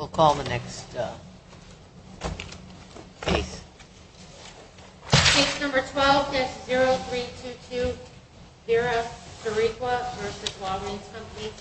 Case number 12-0322, Zira Sariwka v. Walgreen's Company.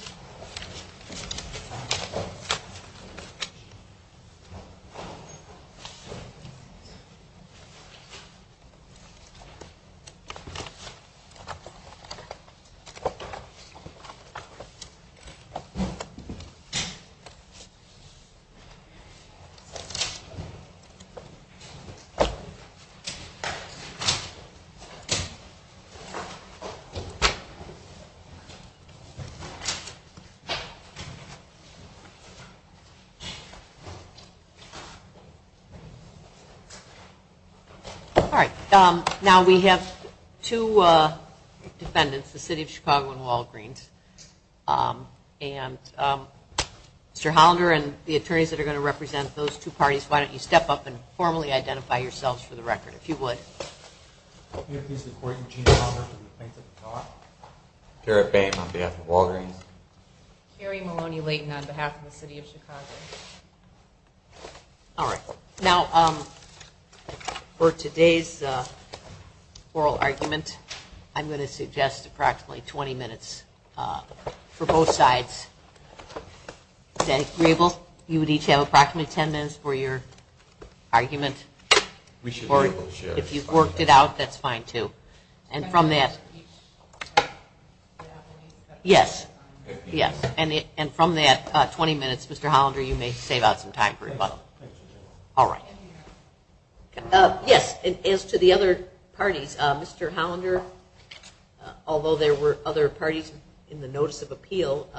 Alright, now we have two defendants, the City of Chicago and Walgreens, and Mr. Hollander and the attorneys that are going to represent those two parties, why don't you step up and formally identify yourselves for the record, if you would. I'm Garrett Boehm on behalf of Walgreens. Carrie Maloney-Layton on behalf of the City of Chicago. Alright, now for today's oral argument, I'm going to suggest approximately 20 minutes for both sides. Is that agreeable? You would each have approximately 10 minutes for your argument? If you've worked it out, that's fine too. And from that, 20 minutes, Mr. Hollander, you may save out some time for rebuttal. Alright. Yes, and as to the other parties, Mr. Hollander, although there were other parties in the Notice of Appeal,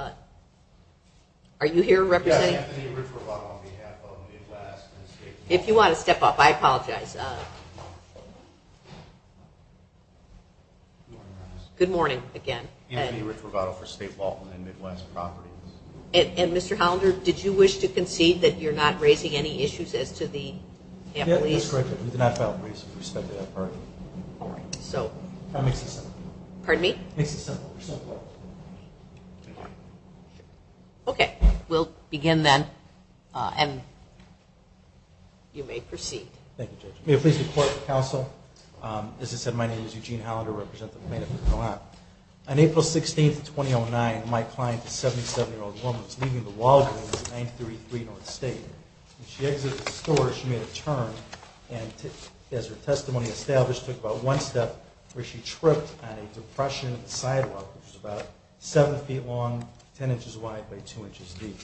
are you here representing? Yes, Anthony Rich-Robato on behalf of Midwest. If you want to step up, I apologize. Good morning, again. Anthony Rich-Robato for State Walton and Midwest Properties. And, Mr. Hollander, did you wish to concede that you're not raising any issues as to the employees? Yes, correct. We did not file briefs with respect to that party. Alright, so. That makes it simple. Pardon me? It makes it simple. Okay. We'll begin then, and you may proceed. Thank you, Judge. May I please report to the Council? As I said, my name is Eugene Hollander. I represent the Plaintiff in Ohio. On April 16, 2009, my client, a 77-year-old woman, was leaving the Walgreens in 933 North State. When she exited the store, she made a turn and, as her testimony established, took about one step where she tripped on a depression sidewalk, which was about 7 feet long, 10 inches wide by 2 inches deep.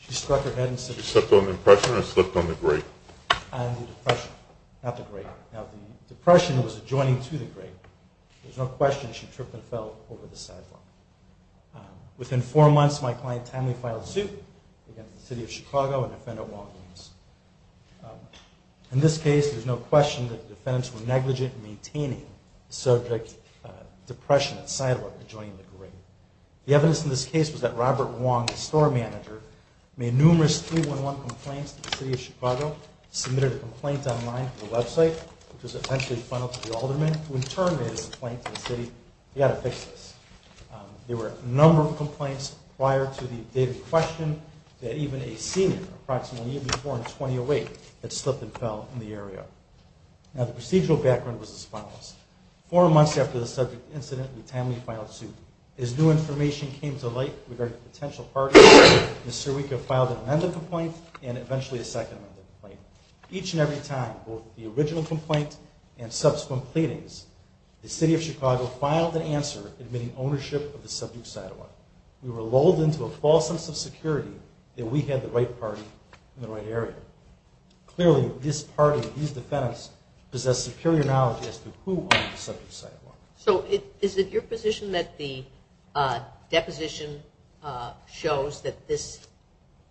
She struck her head and said… She stepped on the depression or slipped on the grate? On the depression, not the grate. Now, the depression was adjoining to the grate. There's no question she tripped and fell over the sidewalk. Within 4 months, my client timely filed suit against the City of Chicago and defendant Walgreens. In this case, there's no question that the defendants were negligent in maintaining the subject depression at sidewalk adjoining the grate. The evidence in this case was that Robert Wong, the store manager, made numerous 311 complaints to the City of Chicago, submitted a complaint online to the website, which was eventually funneled to the alderman, who in turn made his complaint to the City, we've got to fix this. There were a number of complaints prior to the dated question that even a senior, approximately a year before in 2008, had slipped and fell in the area. Now, the procedural background was as follows. Four months after the subject incident, we timely filed suit. As new information came to light regarding potential parties, Ms. Sirica filed an amendment complaint and eventually a second amendment complaint. Each and every time, both the original complaint and subsequent pleadings, the City of Chicago filed an answer admitting ownership of the subject sidewalk. We were lulled into a false sense of security that we had the right party in the right area. Clearly, this party, these defendants, possess superior knowledge as to who owned the subject sidewalk. So is it your position that the deposition shows that this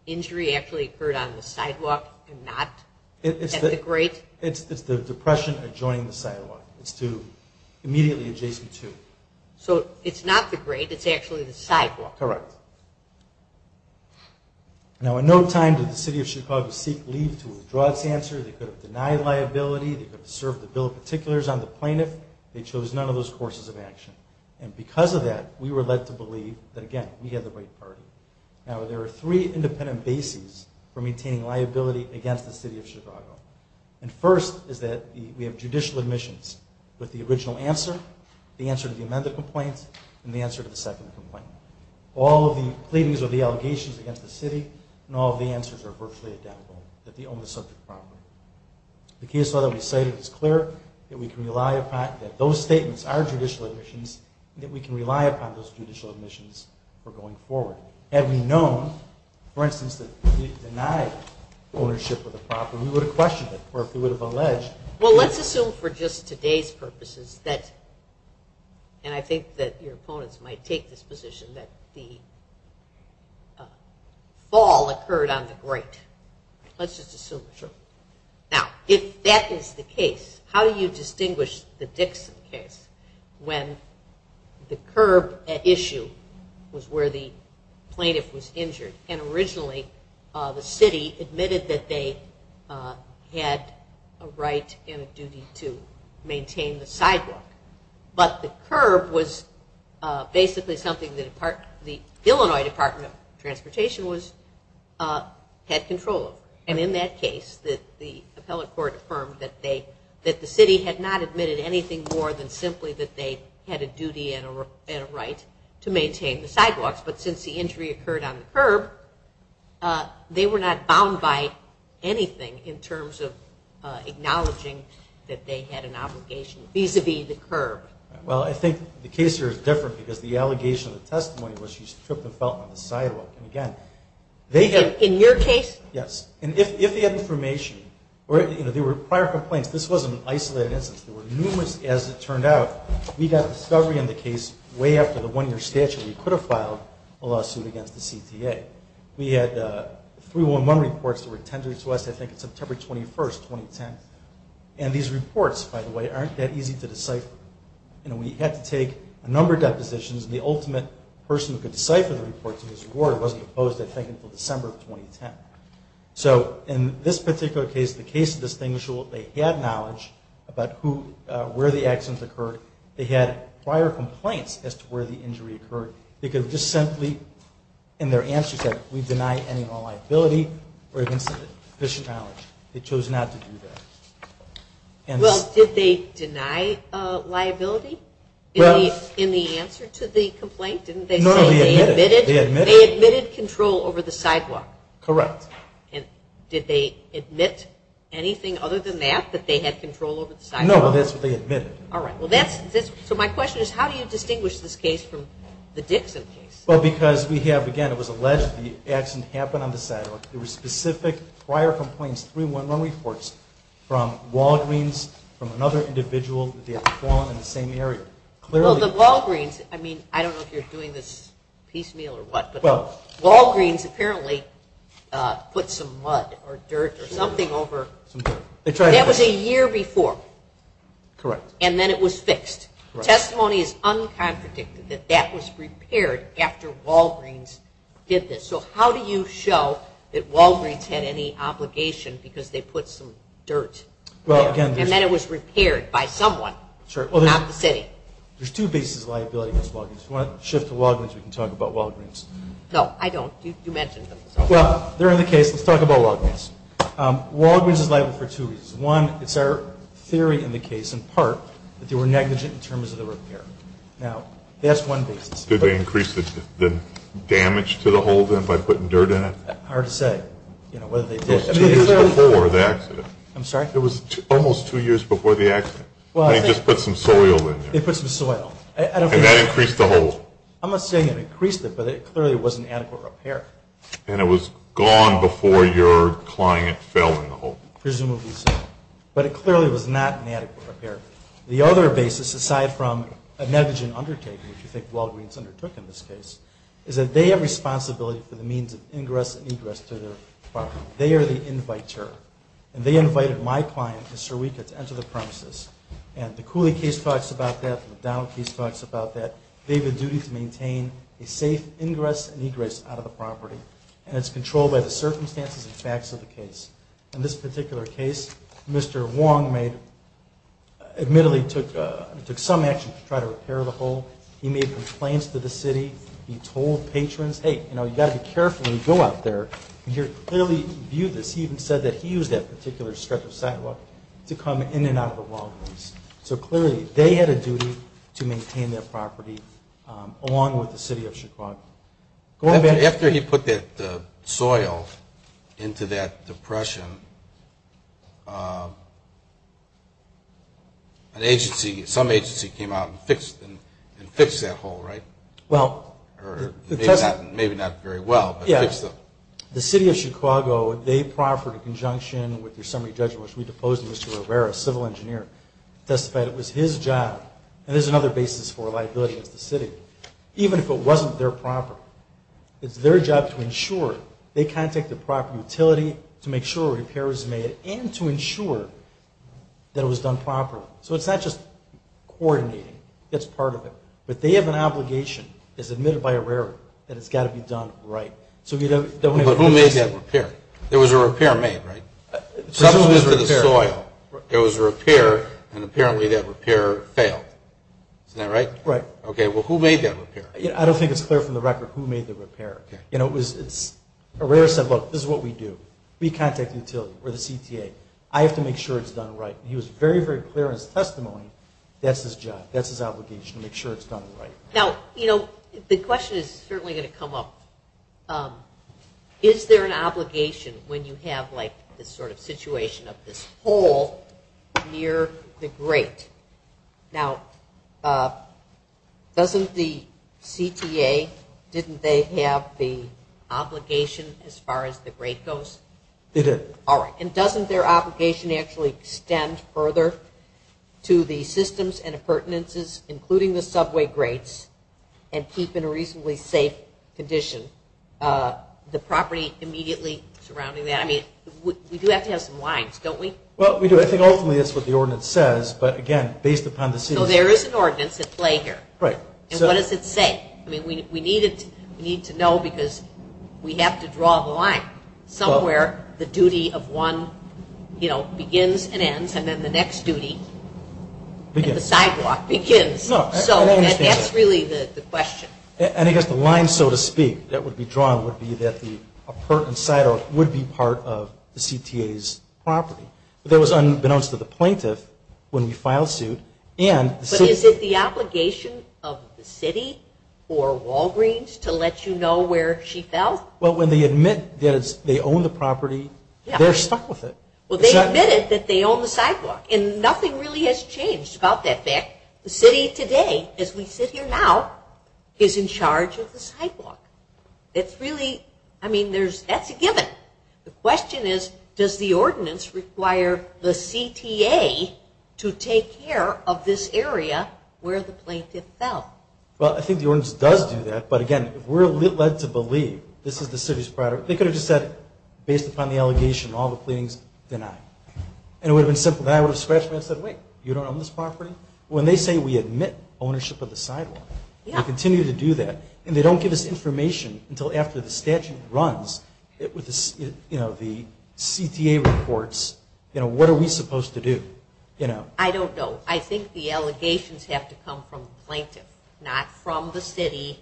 injury actually occurred on the sidewalk and not? At the grate? It's the depression adjoining the sidewalk. It's to immediately adjacent to. So it's not the grate. It's actually the sidewalk. Correct. Now, in no time did the City of Chicago seek leave to withdraw its answer. They could have denied liability. They could have served the bill of particulars on the plaintiff. They chose none of those courses of action. And because of that, we were led to believe that, again, we had the right party. Now, there are three independent bases for maintaining liability against the City of Chicago. And first is that we have judicial admissions with the original answer, the answer to the amended complaint, and the answer to the second complaint. All of the pleadings are the allegations against the City, and all of the answers are virtually identical, that they own the subject property. The case law that we cited is clear, that those statements are judicial admissions, and that we can rely upon those judicial admissions for going forward. Had we known, for instance, that we denied ownership of the property, we would have questioned it, or we would have alleged. Well, let's assume for just today's purposes that, and I think that your opponents might take this position, that the fall occurred on the grate. Let's just assume. Now, if that is the case, how do you distinguish the Dixon case when the curb issue was where the plaintiff was injured, and originally the city admitted that they had a right and a duty to maintain the sidewalk, but the curb was basically something that the Illinois Department of Transportation had control of. And in that case, the appellate court affirmed that the city had not admitted anything more than simply that they had a duty and a right to maintain the sidewalks. But since the injury occurred on the curb, they were not bound by anything in terms of acknowledging that they had an obligation vis-a-vis the curb. Well, I think the case here is different because the allegation of the testimony was she tripped and fell on the sidewalk. And again, they had- In your case? Yes. And if they had information, or there were prior complaints, this wasn't an isolated instance. There were numerous- As it turned out, we got a discovery in the case way after the one-year statute. We could have filed a lawsuit against the CTA. We had 311 reports that were tendered to us, I think, on September 21st, 2010. And these reports, by the way, aren't that easy to decipher. And we had to take a number of depositions, and the ultimate person who could decipher the reports in this regard was proposed, I think, until December of 2010. So in this particular case, the case is distinguishable. They had knowledge about where the accident occurred. They had prior complaints as to where the injury occurred. They could have just simply, in their answer, said, we deny any and all liability or evidence of sufficient knowledge. They chose not to do that. Well, did they deny liability in the answer to the complaint? No, they admitted. They admitted control over the sidewalk. Correct. And did they admit anything other than that, that they had control over the sidewalk? No, that's what they admitted. All right. So my question is, how do you distinguish this case from the Dixon case? Well, because we have, again, it was alleged the accident happened on the sidewalk. There were specific prior complaints, 311 reports, from Walgreens, from another individual that they had fallen in the same area. Well, the Walgreens, I mean, I don't know if you're doing this piecemeal or what, but Walgreens apparently put some mud or dirt or something over. That was a year before. Correct. And then it was fixed. Testimony is uncontradicted that that was repaired after Walgreens did this. So how do you show that Walgreens had any obligation because they put some dirt there And then it was repaired by someone, not the city. There's two bases of liability against Walgreens. If you want to shift to Walgreens, we can talk about Walgreens. No, I don't. You mentioned them. Well, they're in the case. Let's talk about Walgreens. Walgreens is liable for two reasons. One, it's our theory in the case, in part, that they were negligent in terms of the repair. Now, that's one basis. Did they increase the damage to the hold-in by putting dirt in it? Hard to say. Two years before the accident. I'm sorry? It was almost two years before the accident. They just put some soil in there. They put some soil. And that increased the hold. I'm not saying it increased it, but it clearly was an adequate repair. And it was gone before your client fell in the hold-in. Presumably so. But it clearly was not an adequate repair. The other basis, aside from a negligent undertaking, which you think Walgreens undertook in this case, is that they have responsibility for the means of ingress and egress to their park. They are the inviter. And they invited my client, Mr. Weika, to enter the premises. And the Cooley case talks about that. The McDonald case talks about that. They have a duty to maintain a safe ingress and egress out of the property. And it's controlled by the circumstances and facts of the case. In this particular case, Mr. Wong admittedly took some action to try to repair the hold. He made complaints to the city. He told patrons, hey, you've got to be careful when you go out there. And he clearly viewed this. He even said that he used that particular stretch of sidewalk to come in and out of the Walgreens. So clearly they had a duty to maintain their property along with the city of Chicago. After he put that soil into that depression, some agency came out and fixed that hole, right? Well, the test. Maybe not very well, but it fixed it. The city of Chicago, they proffered in conjunction with their summary judgment, which we deposed Mr. Herrera, a civil engineer, testified it was his job. And there's another basis for liability against the city. Even if it wasn't their property, it's their job to ensure they contact the proper utility to make sure a repair is made and to ensure that it was done properly. So it's not just coordinating. It's part of it. But they have an obligation, as admitted by Herrera, that it's got to be done right. But who made that repair? There was a repair made, right? Substance to the soil. There was a repair, and apparently that repair failed. Isn't that right? Right. Okay, well, who made that repair? I don't think it's clear from the record who made the repair. Herrera said, look, this is what we do. We contact the utility or the CTA. I have to make sure it's done right. He was very, very clear in his testimony that's his job, that's his obligation, to make sure it's done right. Now, you know, the question is certainly going to come up, is there an obligation when you have, like, this sort of situation of this hole near the grate? Now, doesn't the CTA, didn't they have the obligation as far as the grate goes? They did. All right, and doesn't their obligation actually extend further to the systems and appurtenances, including the subway grates, and keep in a reasonably safe condition the property immediately surrounding that? I mean, we do have to have some lines, don't we? Well, we do. I think ultimately that's what the ordinance says, but, again, based upon the city. So there is an ordinance at play here. Right. And what does it say? I mean, we need to know because we have to draw the line. Somewhere the duty of one, you know, begins and ends, and then the next duty and the sidewalk begins. No, I don't understand that. So that's really the question. And I guess the line, so to speak, that would be drawn would be that the appurtenant sidewalk would be part of the CTA's property. But that was unbeknownst to the plaintiff when we filed suit and the city. But is it the obligation of the city or Walgreens to let you know where she fell? Well, when they admit that they own the property, they're stuck with it. Well, they admitted that they own the sidewalk, and nothing really has changed about that fact. The city today, as we sit here now, is in charge of the sidewalk. It's really, I mean, that's a given. The question is, does the ordinance require the CTA to take care of this area where the plaintiff fell? Well, I think the ordinance does do that, but, again, if we're led to believe this is the city's property, they could have just said, based upon the allegation and all the pleadings, deny. And it would have been simple. Then I would have scratched my head and said, wait, you don't own this property? When they say we admit ownership of the sidewalk and continue to do that, and they don't give us information until after the statute runs with the CTA reports, what are we supposed to do? I don't know. I think the allegations have to come from the plaintiff, not from the city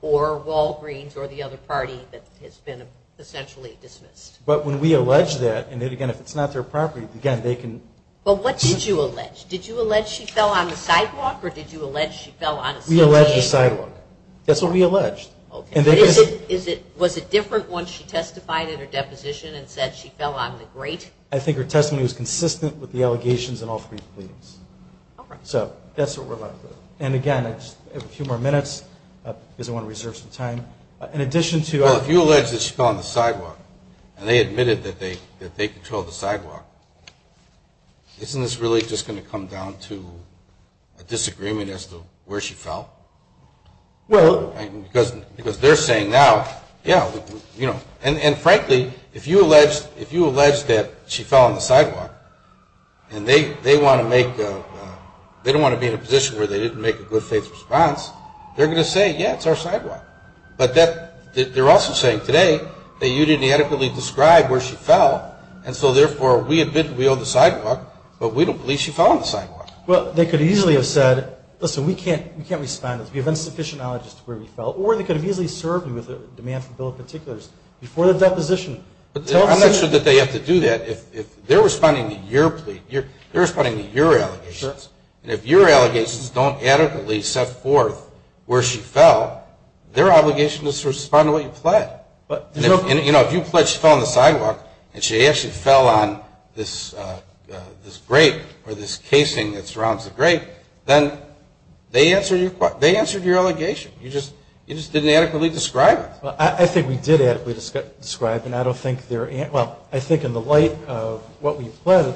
or Walgreens or the other party that has been essentially dismissed. But when we allege that, and, again, if it's not their property, again, they can. But what did you allege? Did you allege she fell on the sidewalk or did you allege she fell on a CTA? We alleged the sidewalk. That's what we alleged. Okay. Was it different once she testified in her deposition and said she fell on the grate? I think her testimony was consistent with the allegations and all three pleadings. All right. So that's what we're left with. And, again, I have a few more minutes because I want to reserve some time. Well, if you allege that she fell on the sidewalk and they admitted that they controlled the sidewalk, isn't this really just going to come down to a disagreement as to where she fell? Well. Because they're saying now, yeah. And, frankly, if you allege that she fell on the sidewalk and they don't want to be in a position where they didn't make a good faith response, they're going to say, yeah, it's our sidewalk. But they're also saying today that you didn't adequately describe where she fell and so, therefore, we admit we own the sidewalk, but we don't believe she fell on the sidewalk. Well, they could easily have said, listen, we can't respond. We have insufficient knowledge as to where we fell. Or they could have easily served me with a demand for a bill of particulars before the deposition. I'm not sure that they have to do that. If they're responding to your plea, they're responding to your allegations, and if your allegations don't adequately set forth where she fell, their obligation is to respond to what you pled. You know, if you pled she fell on the sidewalk and she actually fell on this grate or this casing that surrounds the grate, then they answered your allegation. You just didn't adequately describe it. I think we did adequately describe it. Well, I think in the light of what we pled,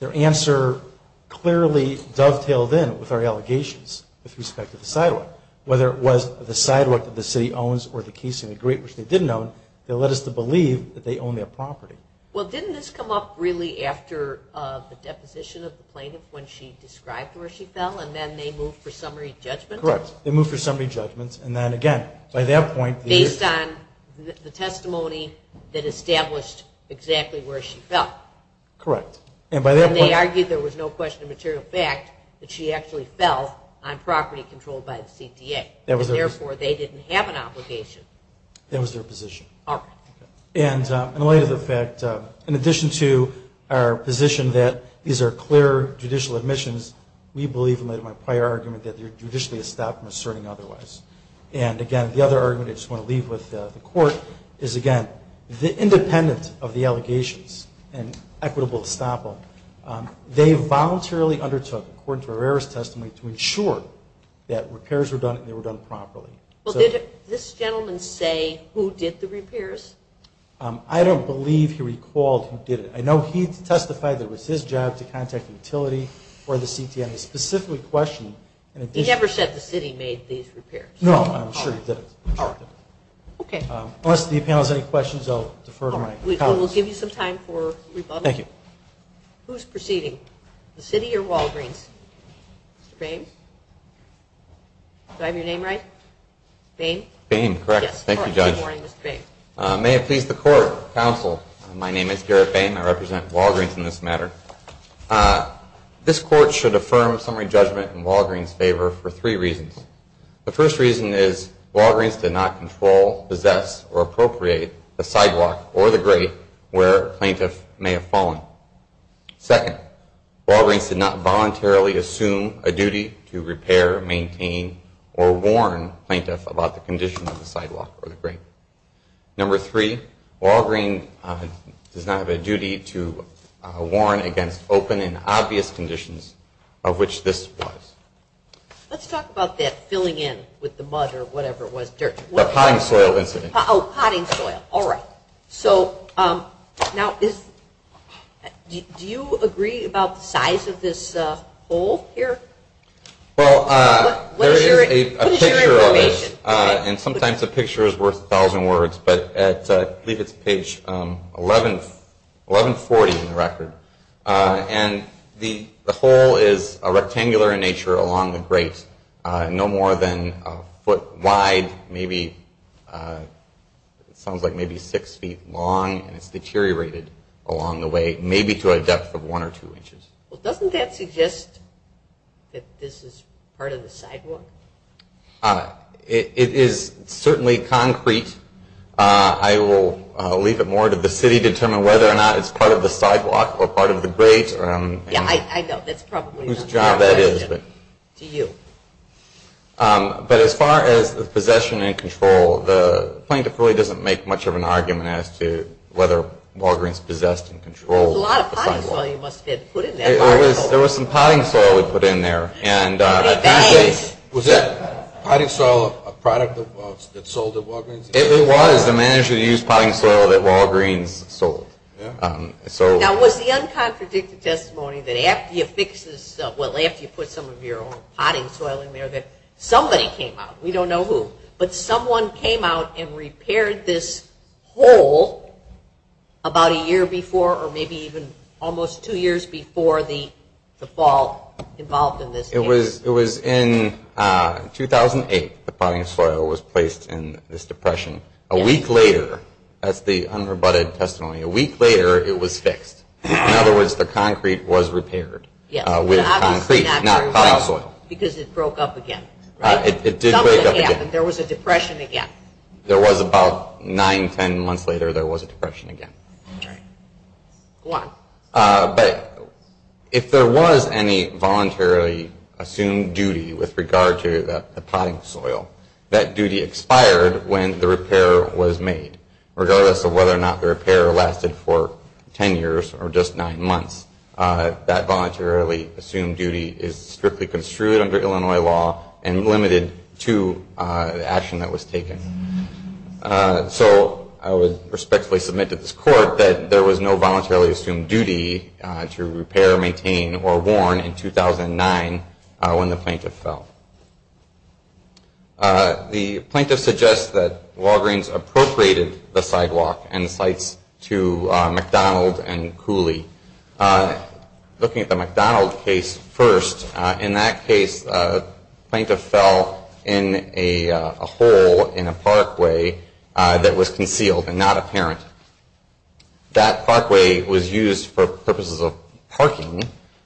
their answer clearly dovetailed in with our allegations with respect to the sidewalk. Whether it was the sidewalk that the city owns or the casing of the grate, which they didn't own, they led us to believe that they owned that property. Well, didn't this come up really after the deposition of the plaintiff when she described where she fell and then they moved for summary judgment? Correct. They moved for summary judgment, and then, again, by that point, based on the testimony that established exactly where she fell. Correct. And by that point they argued there was no question of material fact that she actually fell on property controlled by the CTA, and therefore they didn't have an obligation. That was their position. All right. And in light of the fact, in addition to our position that these are clear judicial admissions, we believe, in light of my prior argument, that they're judicially stopped from asserting otherwise. And, again, the other argument I just want to leave with the court is, again, independent of the allegations and equitable estoppel, they voluntarily undertook, according to Herrera's testimony, to ensure that repairs were done and they were done properly. Well, did this gentleman say who did the repairs? I don't believe he recalled who did it. I know he testified that it was his job to contact the utility or the CT and he specifically questioned. He never said the city made these repairs. No, I'm sure he did. Okay. Unless the panel has any questions, I'll defer to my colleagues. All right. We'll give you some time for rebuttal. Thank you. Who's proceeding? The city or Walgreens? Mr. Boehm? Do I have your name right? Boehm? Boehm, correct. Thank you, Judge. Good morning, Mr. Boehm. May it please the Court, Counsel, my name is Garrett Boehm. I represent Walgreens in this matter. This Court should affirm summary judgment in Walgreens' favor for three reasons. The first reason is Walgreens did not control, possess, or appropriate the sidewalk or the grate where a plaintiff may have fallen. Second, Walgreens did not voluntarily assume a duty to repair, maintain, or warn a plaintiff about the condition of the sidewalk or the grate. Number three, Walgreens does not have a duty to warn against open and obvious conditions of which this applies. Let's talk about that filling in with the mud or whatever it was, dirt. The potting soil incident. Oh, potting soil. All right. So now, do you agree about the size of this hole here? Well, there is a picture of it. What is your information? And sometimes a picture is worth a thousand words, but I believe it's page 1140 in the record. And the hole is rectangular in nature along the grate, no more than a foot wide, maybe it sounds like maybe six feet long, and it's deteriorated along the way, maybe to a depth of one or two inches. Well, doesn't that suggest that this is part of the sidewalk? It is certainly concrete. I will leave it more to the city to determine whether or not it's part of the sidewalk or part of the grate. Yeah, I know. That's probably not my question to you. But as far as the possession and control, the plaintiff really doesn't make much of an argument as to whether Walgreens possessed and controlled the sidewalk. There was a lot of potting soil you must have had to put in there. There was some potting soil we put in there. Was that potting soil a product that sold at Walgreens? It was. They managed to use potting soil that Walgreens sold. Now, was the uncontradicted testimony that after you put some of your own potting soil in there that somebody came out, we don't know who, but someone came out and repaired this hole about a year before or maybe even almost two years before the fall involved in this case? It was in 2008 the potting soil was placed in this depression. A week later, that's the unrebutted testimony, a week later it was fixed. In other words, the concrete was repaired with concrete, not potting soil. Because it broke up again, right? It did break up again. There was a depression again. There was about nine, ten months later there was a depression again. Okay. Go on. But if there was any voluntarily assumed duty with regard to the potting soil, that duty expired when the repair was made. Regardless of whether or not the repair lasted for ten years or just nine months, that voluntarily assumed duty is strictly construed under Illinois law and limited to the action that was taken. So I would respectfully submit to this court that there was no voluntarily assumed duty to repair, maintain, or warn in 2009 when the plaintiff fell. The plaintiff suggests that Walgreens appropriated the sidewalk and the sites to McDonald and Cooley. Looking at the McDonald case first, in that case the plaintiff fell in a hole in a parkway that was concealed and not apparent. That parkway was used for purposes of parking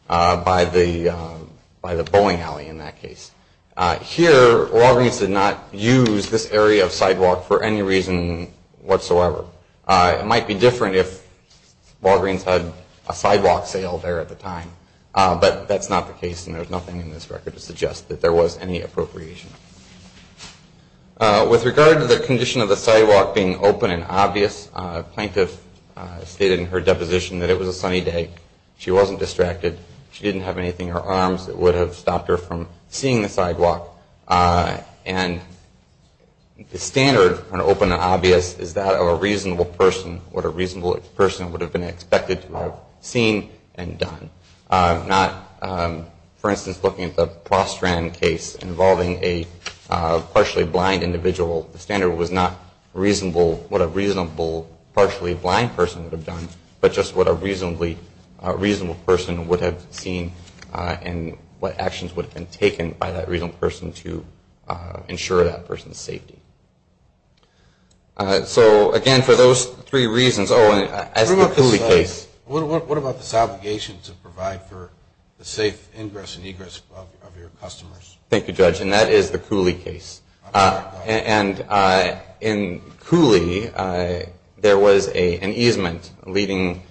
by the bowling alley in that case. Here Walgreens did not use this area of sidewalk for any reason whatsoever. It might be different if Walgreens had a sidewalk sale there at the time, but that's not the case and there's nothing in this record to suggest that there was any appropriation. With regard to the condition of the sidewalk being open and obvious, the plaintiff stated in her deposition that it was a sunny day, she wasn't distracted, she didn't have anything in her arms that would have stopped her from seeing the sidewalk. And the standard when open and obvious is that of a reasonable person, what a reasonable person would have been expected to have seen and done. Not, for instance, looking at the Prostrand case involving a partially blind individual, the standard was not what a reasonable partially blind person would have done, but just what a reasonable person would have seen and what actions would have been taken by that reasonable person to ensure that person's safety. So, again, for those three reasons, oh, and as the Cooley case. What about this obligation to provide for the safe ingress and egress of your customers? Thank you, Judge, and that is the Cooley case. And in Cooley, there was an easement leading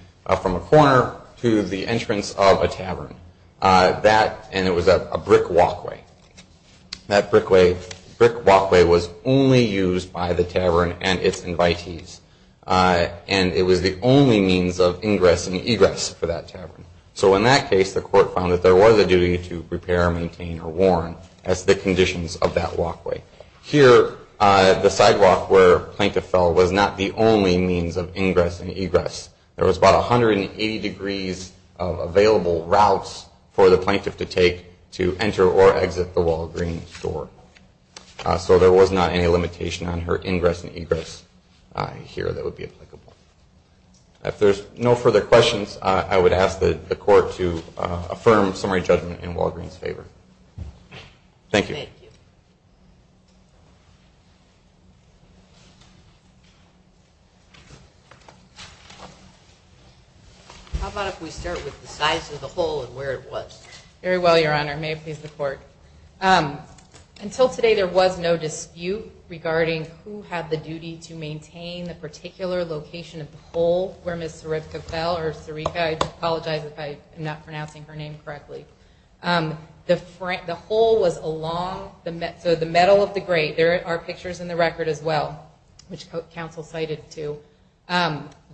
from a corner to the entrance of a tavern, and it was a brick walkway. That brick walkway was only used by the tavern and its invitees, and it was the only means of ingress and egress for that tavern. So in that case, the court found that there was a duty to repair, maintain, or warn as the conditions of that walkway. Here, the sidewalk where a plaintiff fell was not the only means of ingress and egress. There was about 180 degrees of available routes for the plaintiff to take to enter or exit the Walgreens store. So there was not any limitation on her ingress and egress here that would be applicable. If there's no further questions, I would ask the court to affirm summary judgment in Walgreens' favor. Thank you. Thank you. How about if we start with the size of the hole and where it was? Very well, Your Honor. May it please the court. Until today, there was no dispute regarding who had the duty to maintain the particular location of the hole where Ms. Seripka fell, or Seripka, I apologize if I am not pronouncing her name correctly. The hole was along the metal of the grate. There are pictures in the record as well, which counsel cited too.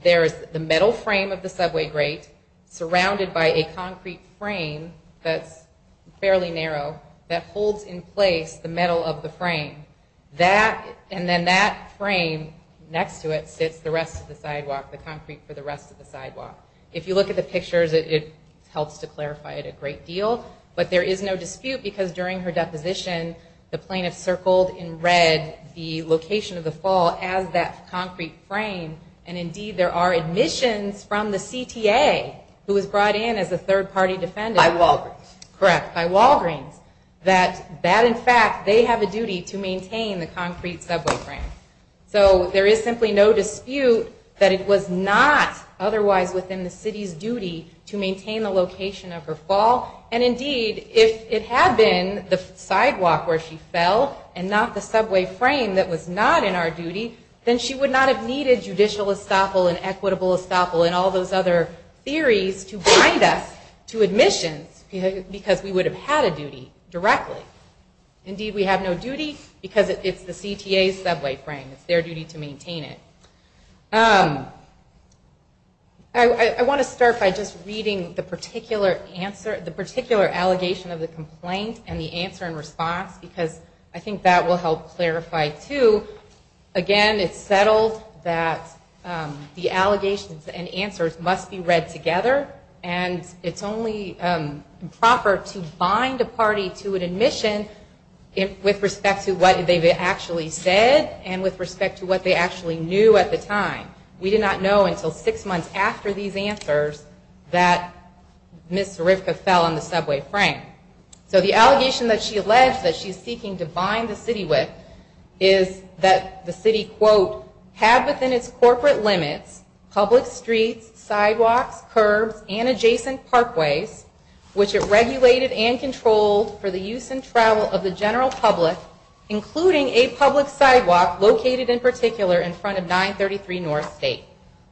There is the metal frame of the subway grate surrounded by a concrete frame that's fairly narrow that holds in place the metal of the frame. And then that frame next to it sits the rest of the sidewalk, the concrete for the rest of the sidewalk. If you look at the pictures, it helps to clarify it a great deal. But there is no dispute because during her deposition, the plaintiff circled in red the location of the fall as that concrete frame. And indeed, there are admissions from the CTA who was brought in as a third-party defendant. By Walgreens. Correct, by Walgreens. That in fact, they have a duty to maintain the concrete subway frame. So there is simply no dispute that it was not otherwise within the city's duty to maintain the location of her fall. And indeed, if it had been the sidewalk where she fell and not the subway frame that was not in our duty, then she would not have needed judicial estoppel and equitable estoppel and all those other theories to bind us to admissions because we would have had a duty directly. Indeed, we have no duty because it's the CTA's subway frame. It's their duty to maintain it. I want to start by just reading the particular answer, the particular allegation of the complaint and the answer in response because I think that will help clarify too. Again, it's settled that the allegations and answers must be read together. And it's only proper to bind a party to an admission with respect to what they've actually said and with respect to what they actually knew at the time. We did not know until six months after these answers that Ms. Hrivka fell on the subway frame. So the allegation that she alleged that she's seeking to bind the city with is that the city, quote, have within its corporate limits public streets, sidewalks, curbs, and adjacent parkways, which it regulated and controlled for the use and travel of the general public, including a public sidewalk located in particular in front of 933 North State.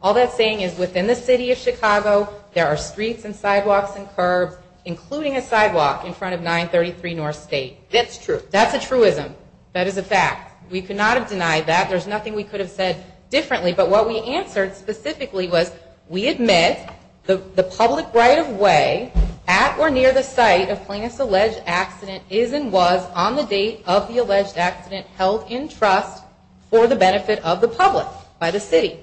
All that's saying is within the city of Chicago, there are streets and sidewalks and curbs, including a sidewalk in front of 933 North State. That's true. That's a truism. That is a fact. We could not have denied that. There's nothing we could have said differently. But what we answered specifically was we admit the public right of way at or near the site of Plaintiff's alleged accident is and was on the date of the alleged accident held in trust for the benefit of the public by the city.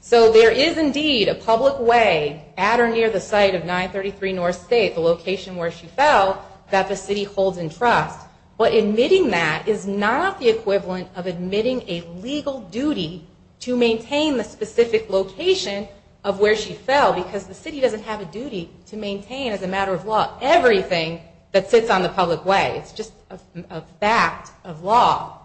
So there is indeed a public way at or near the site of 933 North State, the location where she fell, that the city holds in trust. But admitting that is not the equivalent of admitting a legal duty to maintain the specific location of where she fell because the city doesn't have a duty to maintain as a matter of law everything that sits on the public way. It's just a fact of law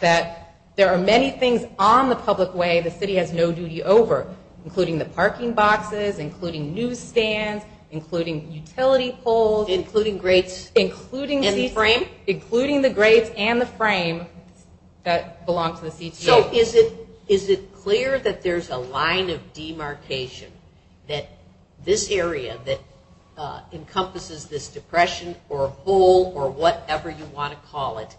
that there are many things on the public way the city has no duty over, including the parking boxes, including newsstands, including utility poles. Including grates. Including the frame. Including the grates and the frame that belong to the CTA. So is it clear that there's a line of demarcation that this area that encompasses this depression or hole or whatever you want to call it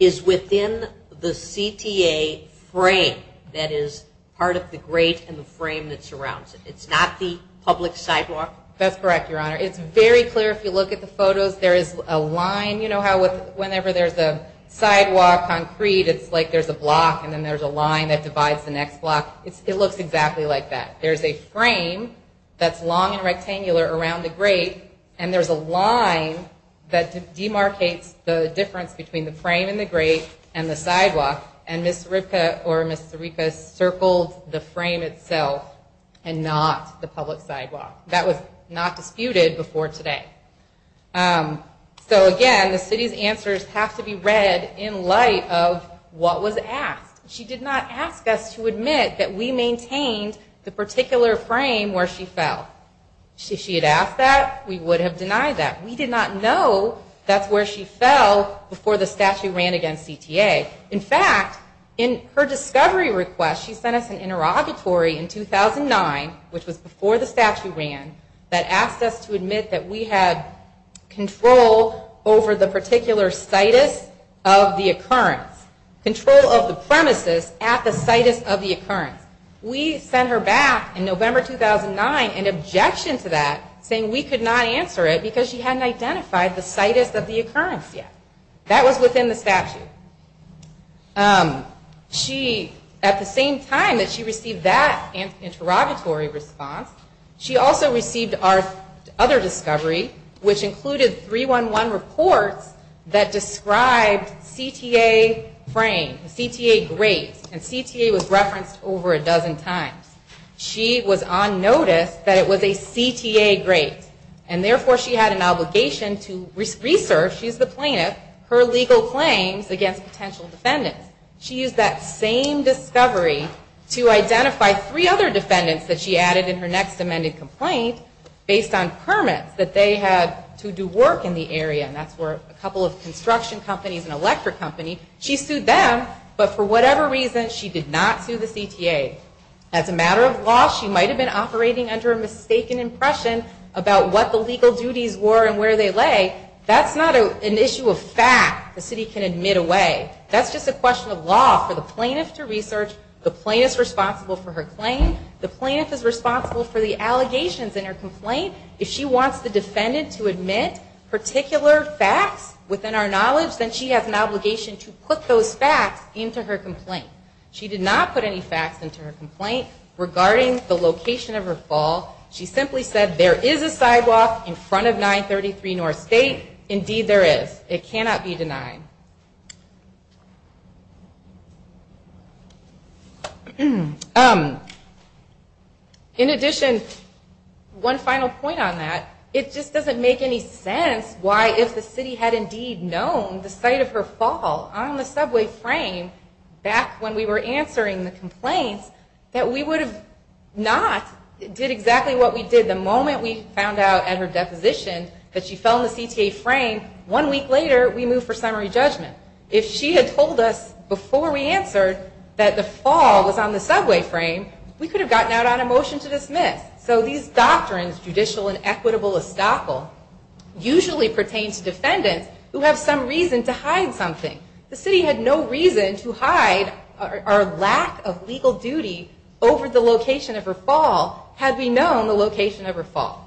is within the CTA frame that is part of the grate and the frame that surrounds it? It's not the public sidewalk? That's correct, Your Honor. It's very clear if you look at the photos. There is a line. You know how whenever there's a sidewalk on Crete it's like there's a block and then there's a line that divides the next block. It looks exactly like that. There's a frame that's long and rectangular around the grate and there's a line that demarcates the difference between the frame and the grate and the sidewalk. And Ms. Ziricka circled the frame itself and not the public sidewalk. That was not disputed before today. So again, the city's answers have to be read in light of what was asked. She did not ask us to admit that we maintained the particular frame where she fell. If she had asked that, we would have denied that. We did not know that's where she fell before the statute ran against CTA. In fact, in her discovery request, she sent us an interrogatory in 2009, which was before the statute ran, that asked us to admit that we had control over the particular situs of the occurrence, control of the premises at the situs of the occurrence. We sent her back in November 2009 in objection to that, saying we could not answer it because she hadn't identified the situs of the occurrence yet. That was within the statute. She, at the same time that she received that interrogatory response, she also received our other discovery, which included 311 reports that described CTA frame, CTA grate, and CTA was referenced over a dozen times. She was on notice that it was a CTA grate. Therefore, she had an obligation to research, she's the plaintiff, her legal claims against potential defendants. She used that same discovery to identify three other defendants that she added in her next amended complaint based on permits that they had to do work in the area. That's where a couple of construction companies and electric companies, she sued them, but for whatever reason, she did not sue the CTA. As a matter of law, she might have been operating under a mistaken impression about what the legal duties were and where they lay. That's not an issue of fact the city can admit away. That's just a question of law for the plaintiff to research. The plaintiff's responsible for her claim. The plaintiff is responsible for the allegations in her complaint. If she wants the defendant to admit particular facts within our knowledge, then she has an obligation to put those facts into her complaint. She did not put any facts into her complaint regarding the location of her fall. She simply said there is a sidewalk in front of 933 North State. Indeed, there is. It cannot be denied. In addition, one final point on that. It just doesn't make any sense why if the city had indeed known the site of her fall on the subway frame back when we were answering the complaints, that we would have not did exactly what we did the moment we found out at her deposition that she fell in the CTA frame one week later we moved for summary judgment. If she had told us before we answered that the fall was on the subway frame, we could have gotten out on a motion to dismiss. So these doctrines, judicial and equitable estoppel, usually pertains to defendants who have some reason to hide something. The city had no reason to hide our lack of legal duty over the location of her fall had we known the location of her fall.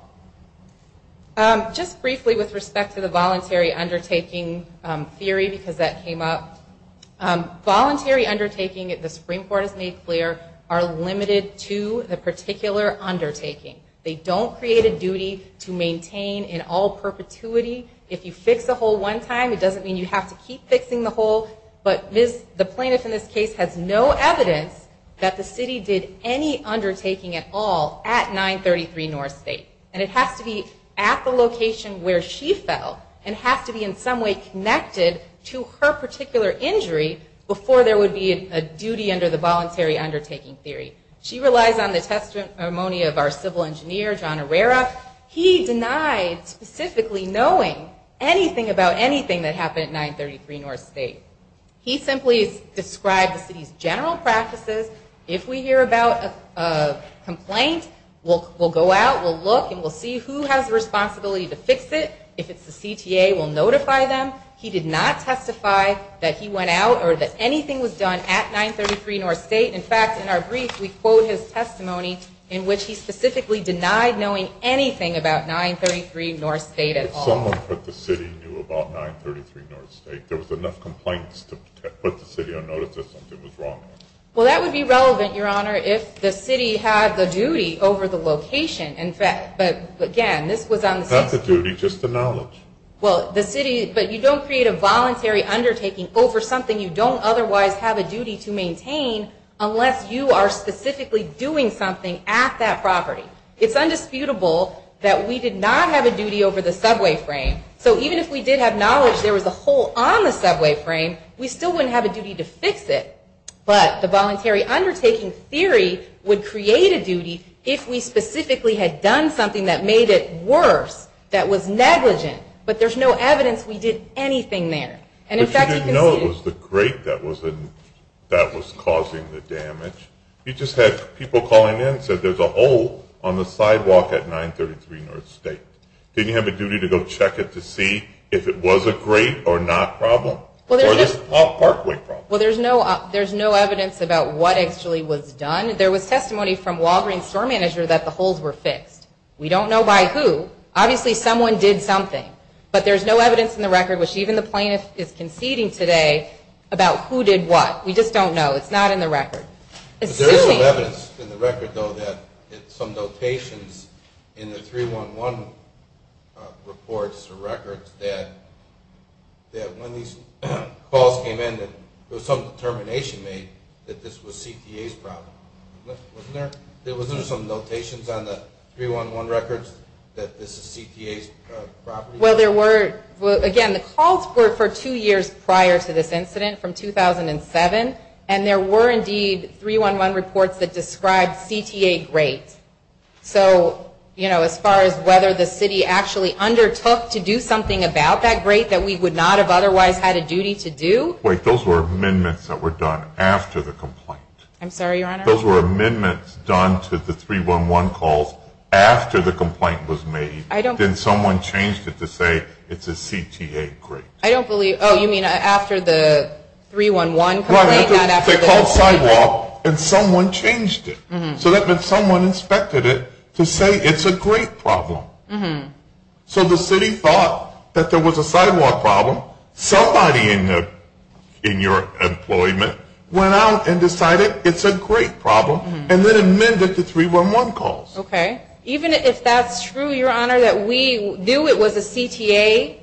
Just briefly with respect to the voluntary undertaking theory because that came up. Voluntary undertaking, the Supreme Court has made clear, are limited to the particular undertaking. They don't create a duty to maintain in all perpetuity. If you fix a hole one time, it doesn't mean you have to keep fixing the hole. But the plaintiff in this case has no evidence that the city did any undertaking at all at 933 North State. And it has to be at the location where she fell and has to be in some way connected to her particular injury before there would be a duty under the voluntary undertaking theory. She relies on the testimony of our civil engineer, John Herrera. He denied specifically knowing anything about anything that happened at 933 North State. He simply described the city's general practices. If we hear about a complaint, we'll go out, we'll look, and we'll see who has the responsibility to fix it. If it's the CTA, we'll notify them. He did not testify that he went out or that anything was done at 933 North State. In fact, in our brief, we quote his testimony in which he specifically denied knowing anything about 933 North State at all. If someone put the city knew about 933 North State, there was enough complaints to put the city on notice that something was wrong. Well, that would be relevant, Your Honor, if the city had the duty over the location. In fact, but again, this was on the city. Not the duty, just the knowledge. Well, the city, but you don't create a voluntary undertaking over something you don't otherwise have a duty to maintain unless you are specifically doing something at that property. It's undisputable that we did not have a duty over the subway frame. So even if we did have knowledge there was a hole on the subway frame, we still wouldn't have a duty to fix it. But the voluntary undertaking theory would create a duty if we specifically had done something that made it worse, that was negligent. But there's no evidence we did anything there. But you didn't know it was the grate that was causing the damage? You just had people calling in and said there's a hole on the sidewalk at 933 North State. Didn't you have a duty to go check it to see if it was a grate or not problem? Or just a parkway problem? Well, there's no evidence about what actually was done. There was testimony from Walgreen's store manager that the holes were fixed. We don't know by who. Obviously someone did something. But there's no evidence in the record, which even the plaintiff is conceding today, about who did what. We just don't know. It's not in the record. But there is some evidence in the record, though, that some notations in the 311 reports or records that when these calls came in that there was some determination made that this was CTA's problem. Wasn't there some notations on the 311 records that this is CTA's property? Well, there were. Again, the calls were for two years prior to this incident, from 2007, and there were indeed 311 reports that described CTA grates. So, you know, as far as whether the city actually undertook to do something about that grate that we would not have otherwise had a duty to do. Wait, those were amendments that were done after the complaint. I'm sorry, Your Honor? Those were amendments done to the 311 calls after the complaint was made. Then someone changed it to say it's a CTA grate. I don't believe. Oh, you mean after the 311 complaint? Right, they called sidewalk, and someone changed it. So that meant someone inspected it to say it's a grate problem. So the city thought that there was a sidewalk problem. Somebody in your employment went out and decided it's a grate problem and then amended the 311 calls. Okay. Even if that's true, Your Honor, that we knew it was a CTA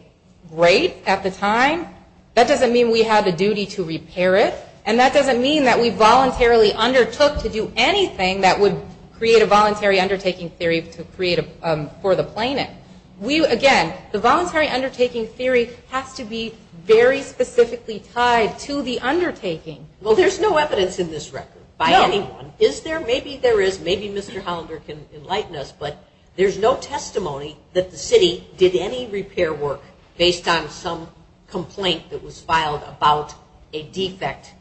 grate at the time, that doesn't mean we had a duty to repair it, and that doesn't mean that we voluntarily undertook to do anything that would create a voluntary undertaking theory for the plaintiff. Again, the voluntary undertaking theory has to be very specifically tied to the undertaking. Well, there's no evidence in this record by anyone. Is there? Maybe there is. Maybe Mr. Hollander can enlighten us, but there's no testimony that the city did any repair work based on some complaint that was filed about a defect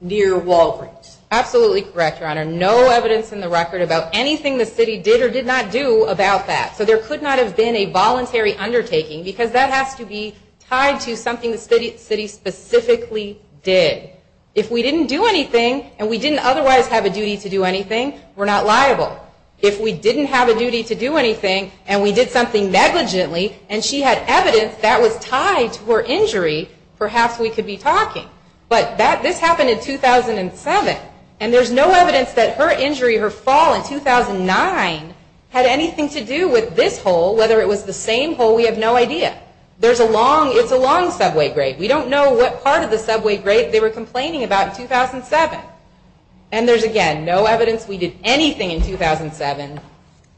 near Walgreens. Absolutely correct, Your Honor. No evidence in the record about anything the city did or did not do about that. So there could not have been a voluntary undertaking because that has to be tied to something the city specifically did. If we didn't do anything and we didn't otherwise have a duty to do anything, we're not liable. If we didn't have a duty to do anything and we did something negligently and she had evidence that was tied to her injury, perhaps we could be talking. But this happened in 2007, and there's no evidence that her injury, her fall in 2009, had anything to do with this hole, whether it was the same hole, we have no idea. It's a long subway grate. We don't know what part of the subway grate they were complaining about in 2007. And there's, again, no evidence we did anything in 2007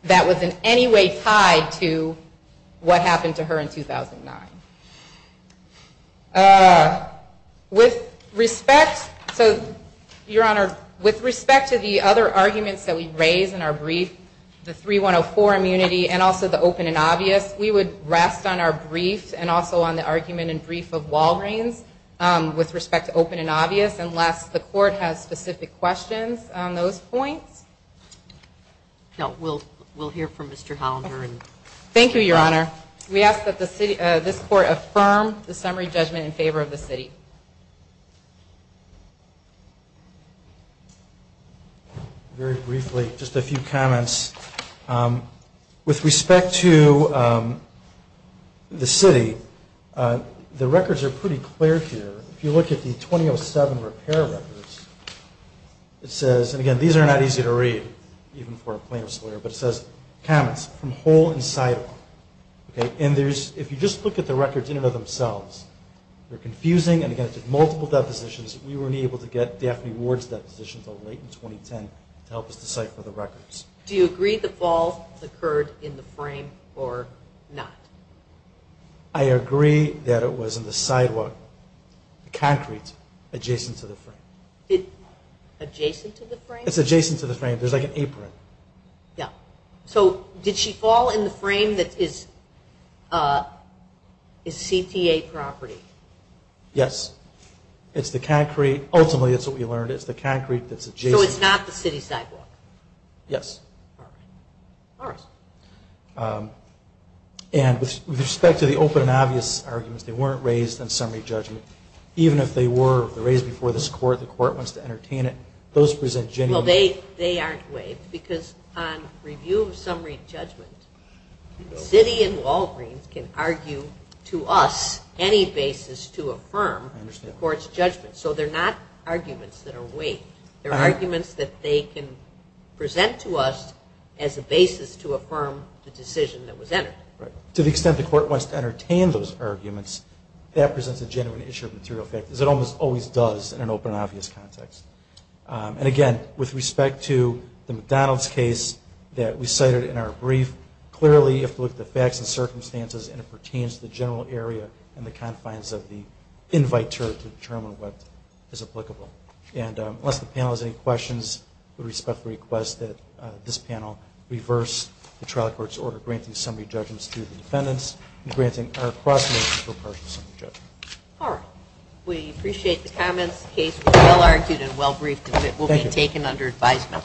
that was in any way tied to what happened to her in 2009. With respect to the other arguments that we've raised in our brief, the 3104 immunity and also the open and obvious, we would rest on our brief and also on the argument and brief of Walgreens with respect to open and obvious unless the court has specific questions on those points. We'll hear from Mr. Hollander. Thank you, Your Honor. We ask that this court affirm the summary judgment in favor of the city. Very briefly, just a few comments. With respect to the city, the records are pretty clear here. If you look at the 2007 repair records, it says, and, again, these are not easy to read, even for a plaintiff's lawyer, but it says comments from hole and sidewall. And if you just look at the records in and of themselves, they're confusing. And, again, it's multiple depositions. We weren't able to get Daphne Ward's depositions until late in 2010 to help us decipher the records. Do you agree the fall occurred in the frame or not? I agree that it was in the sidewalk, the concrete adjacent to the frame. Adjacent to the frame? It's adjacent to the frame. There's, like, an apron. Yeah. So did she fall in the frame that is CTA property? Yes. It's the concrete. Ultimately, it's what we learned. It's the concrete that's adjacent. So it's not the city sidewalk? Yes. All right. All right. And with respect to the open and obvious arguments, they weren't raised in summary judgment. Even if they were raised before this court, the court wants to entertain it. Those present genuinely. Well, they aren't waived because on review of summary judgment, city and Walgreens can argue to us any basis to affirm the court's judgment. So they're not arguments that are waived. They're arguments that they can present to us as a basis to affirm the decision that was entered. Right. To the extent the court wants to entertain those arguments, that presents a genuine issue of material factors. It almost always does in an open and obvious context. And, again, with respect to the McDonald's case that we cited in our brief, clearly you have to look at the facts and circumstances, and it pertains to the general area and the confines of the invite to determine what is applicable. And unless the panel has any questions, I would respectfully request that this panel reverse the trial court's order granting summary judgments to the defendants and granting our cross-making for partial summary judgment. All right. We appreciate the comments. The case was well-argued and well-briefed, and it will be taken under advisement.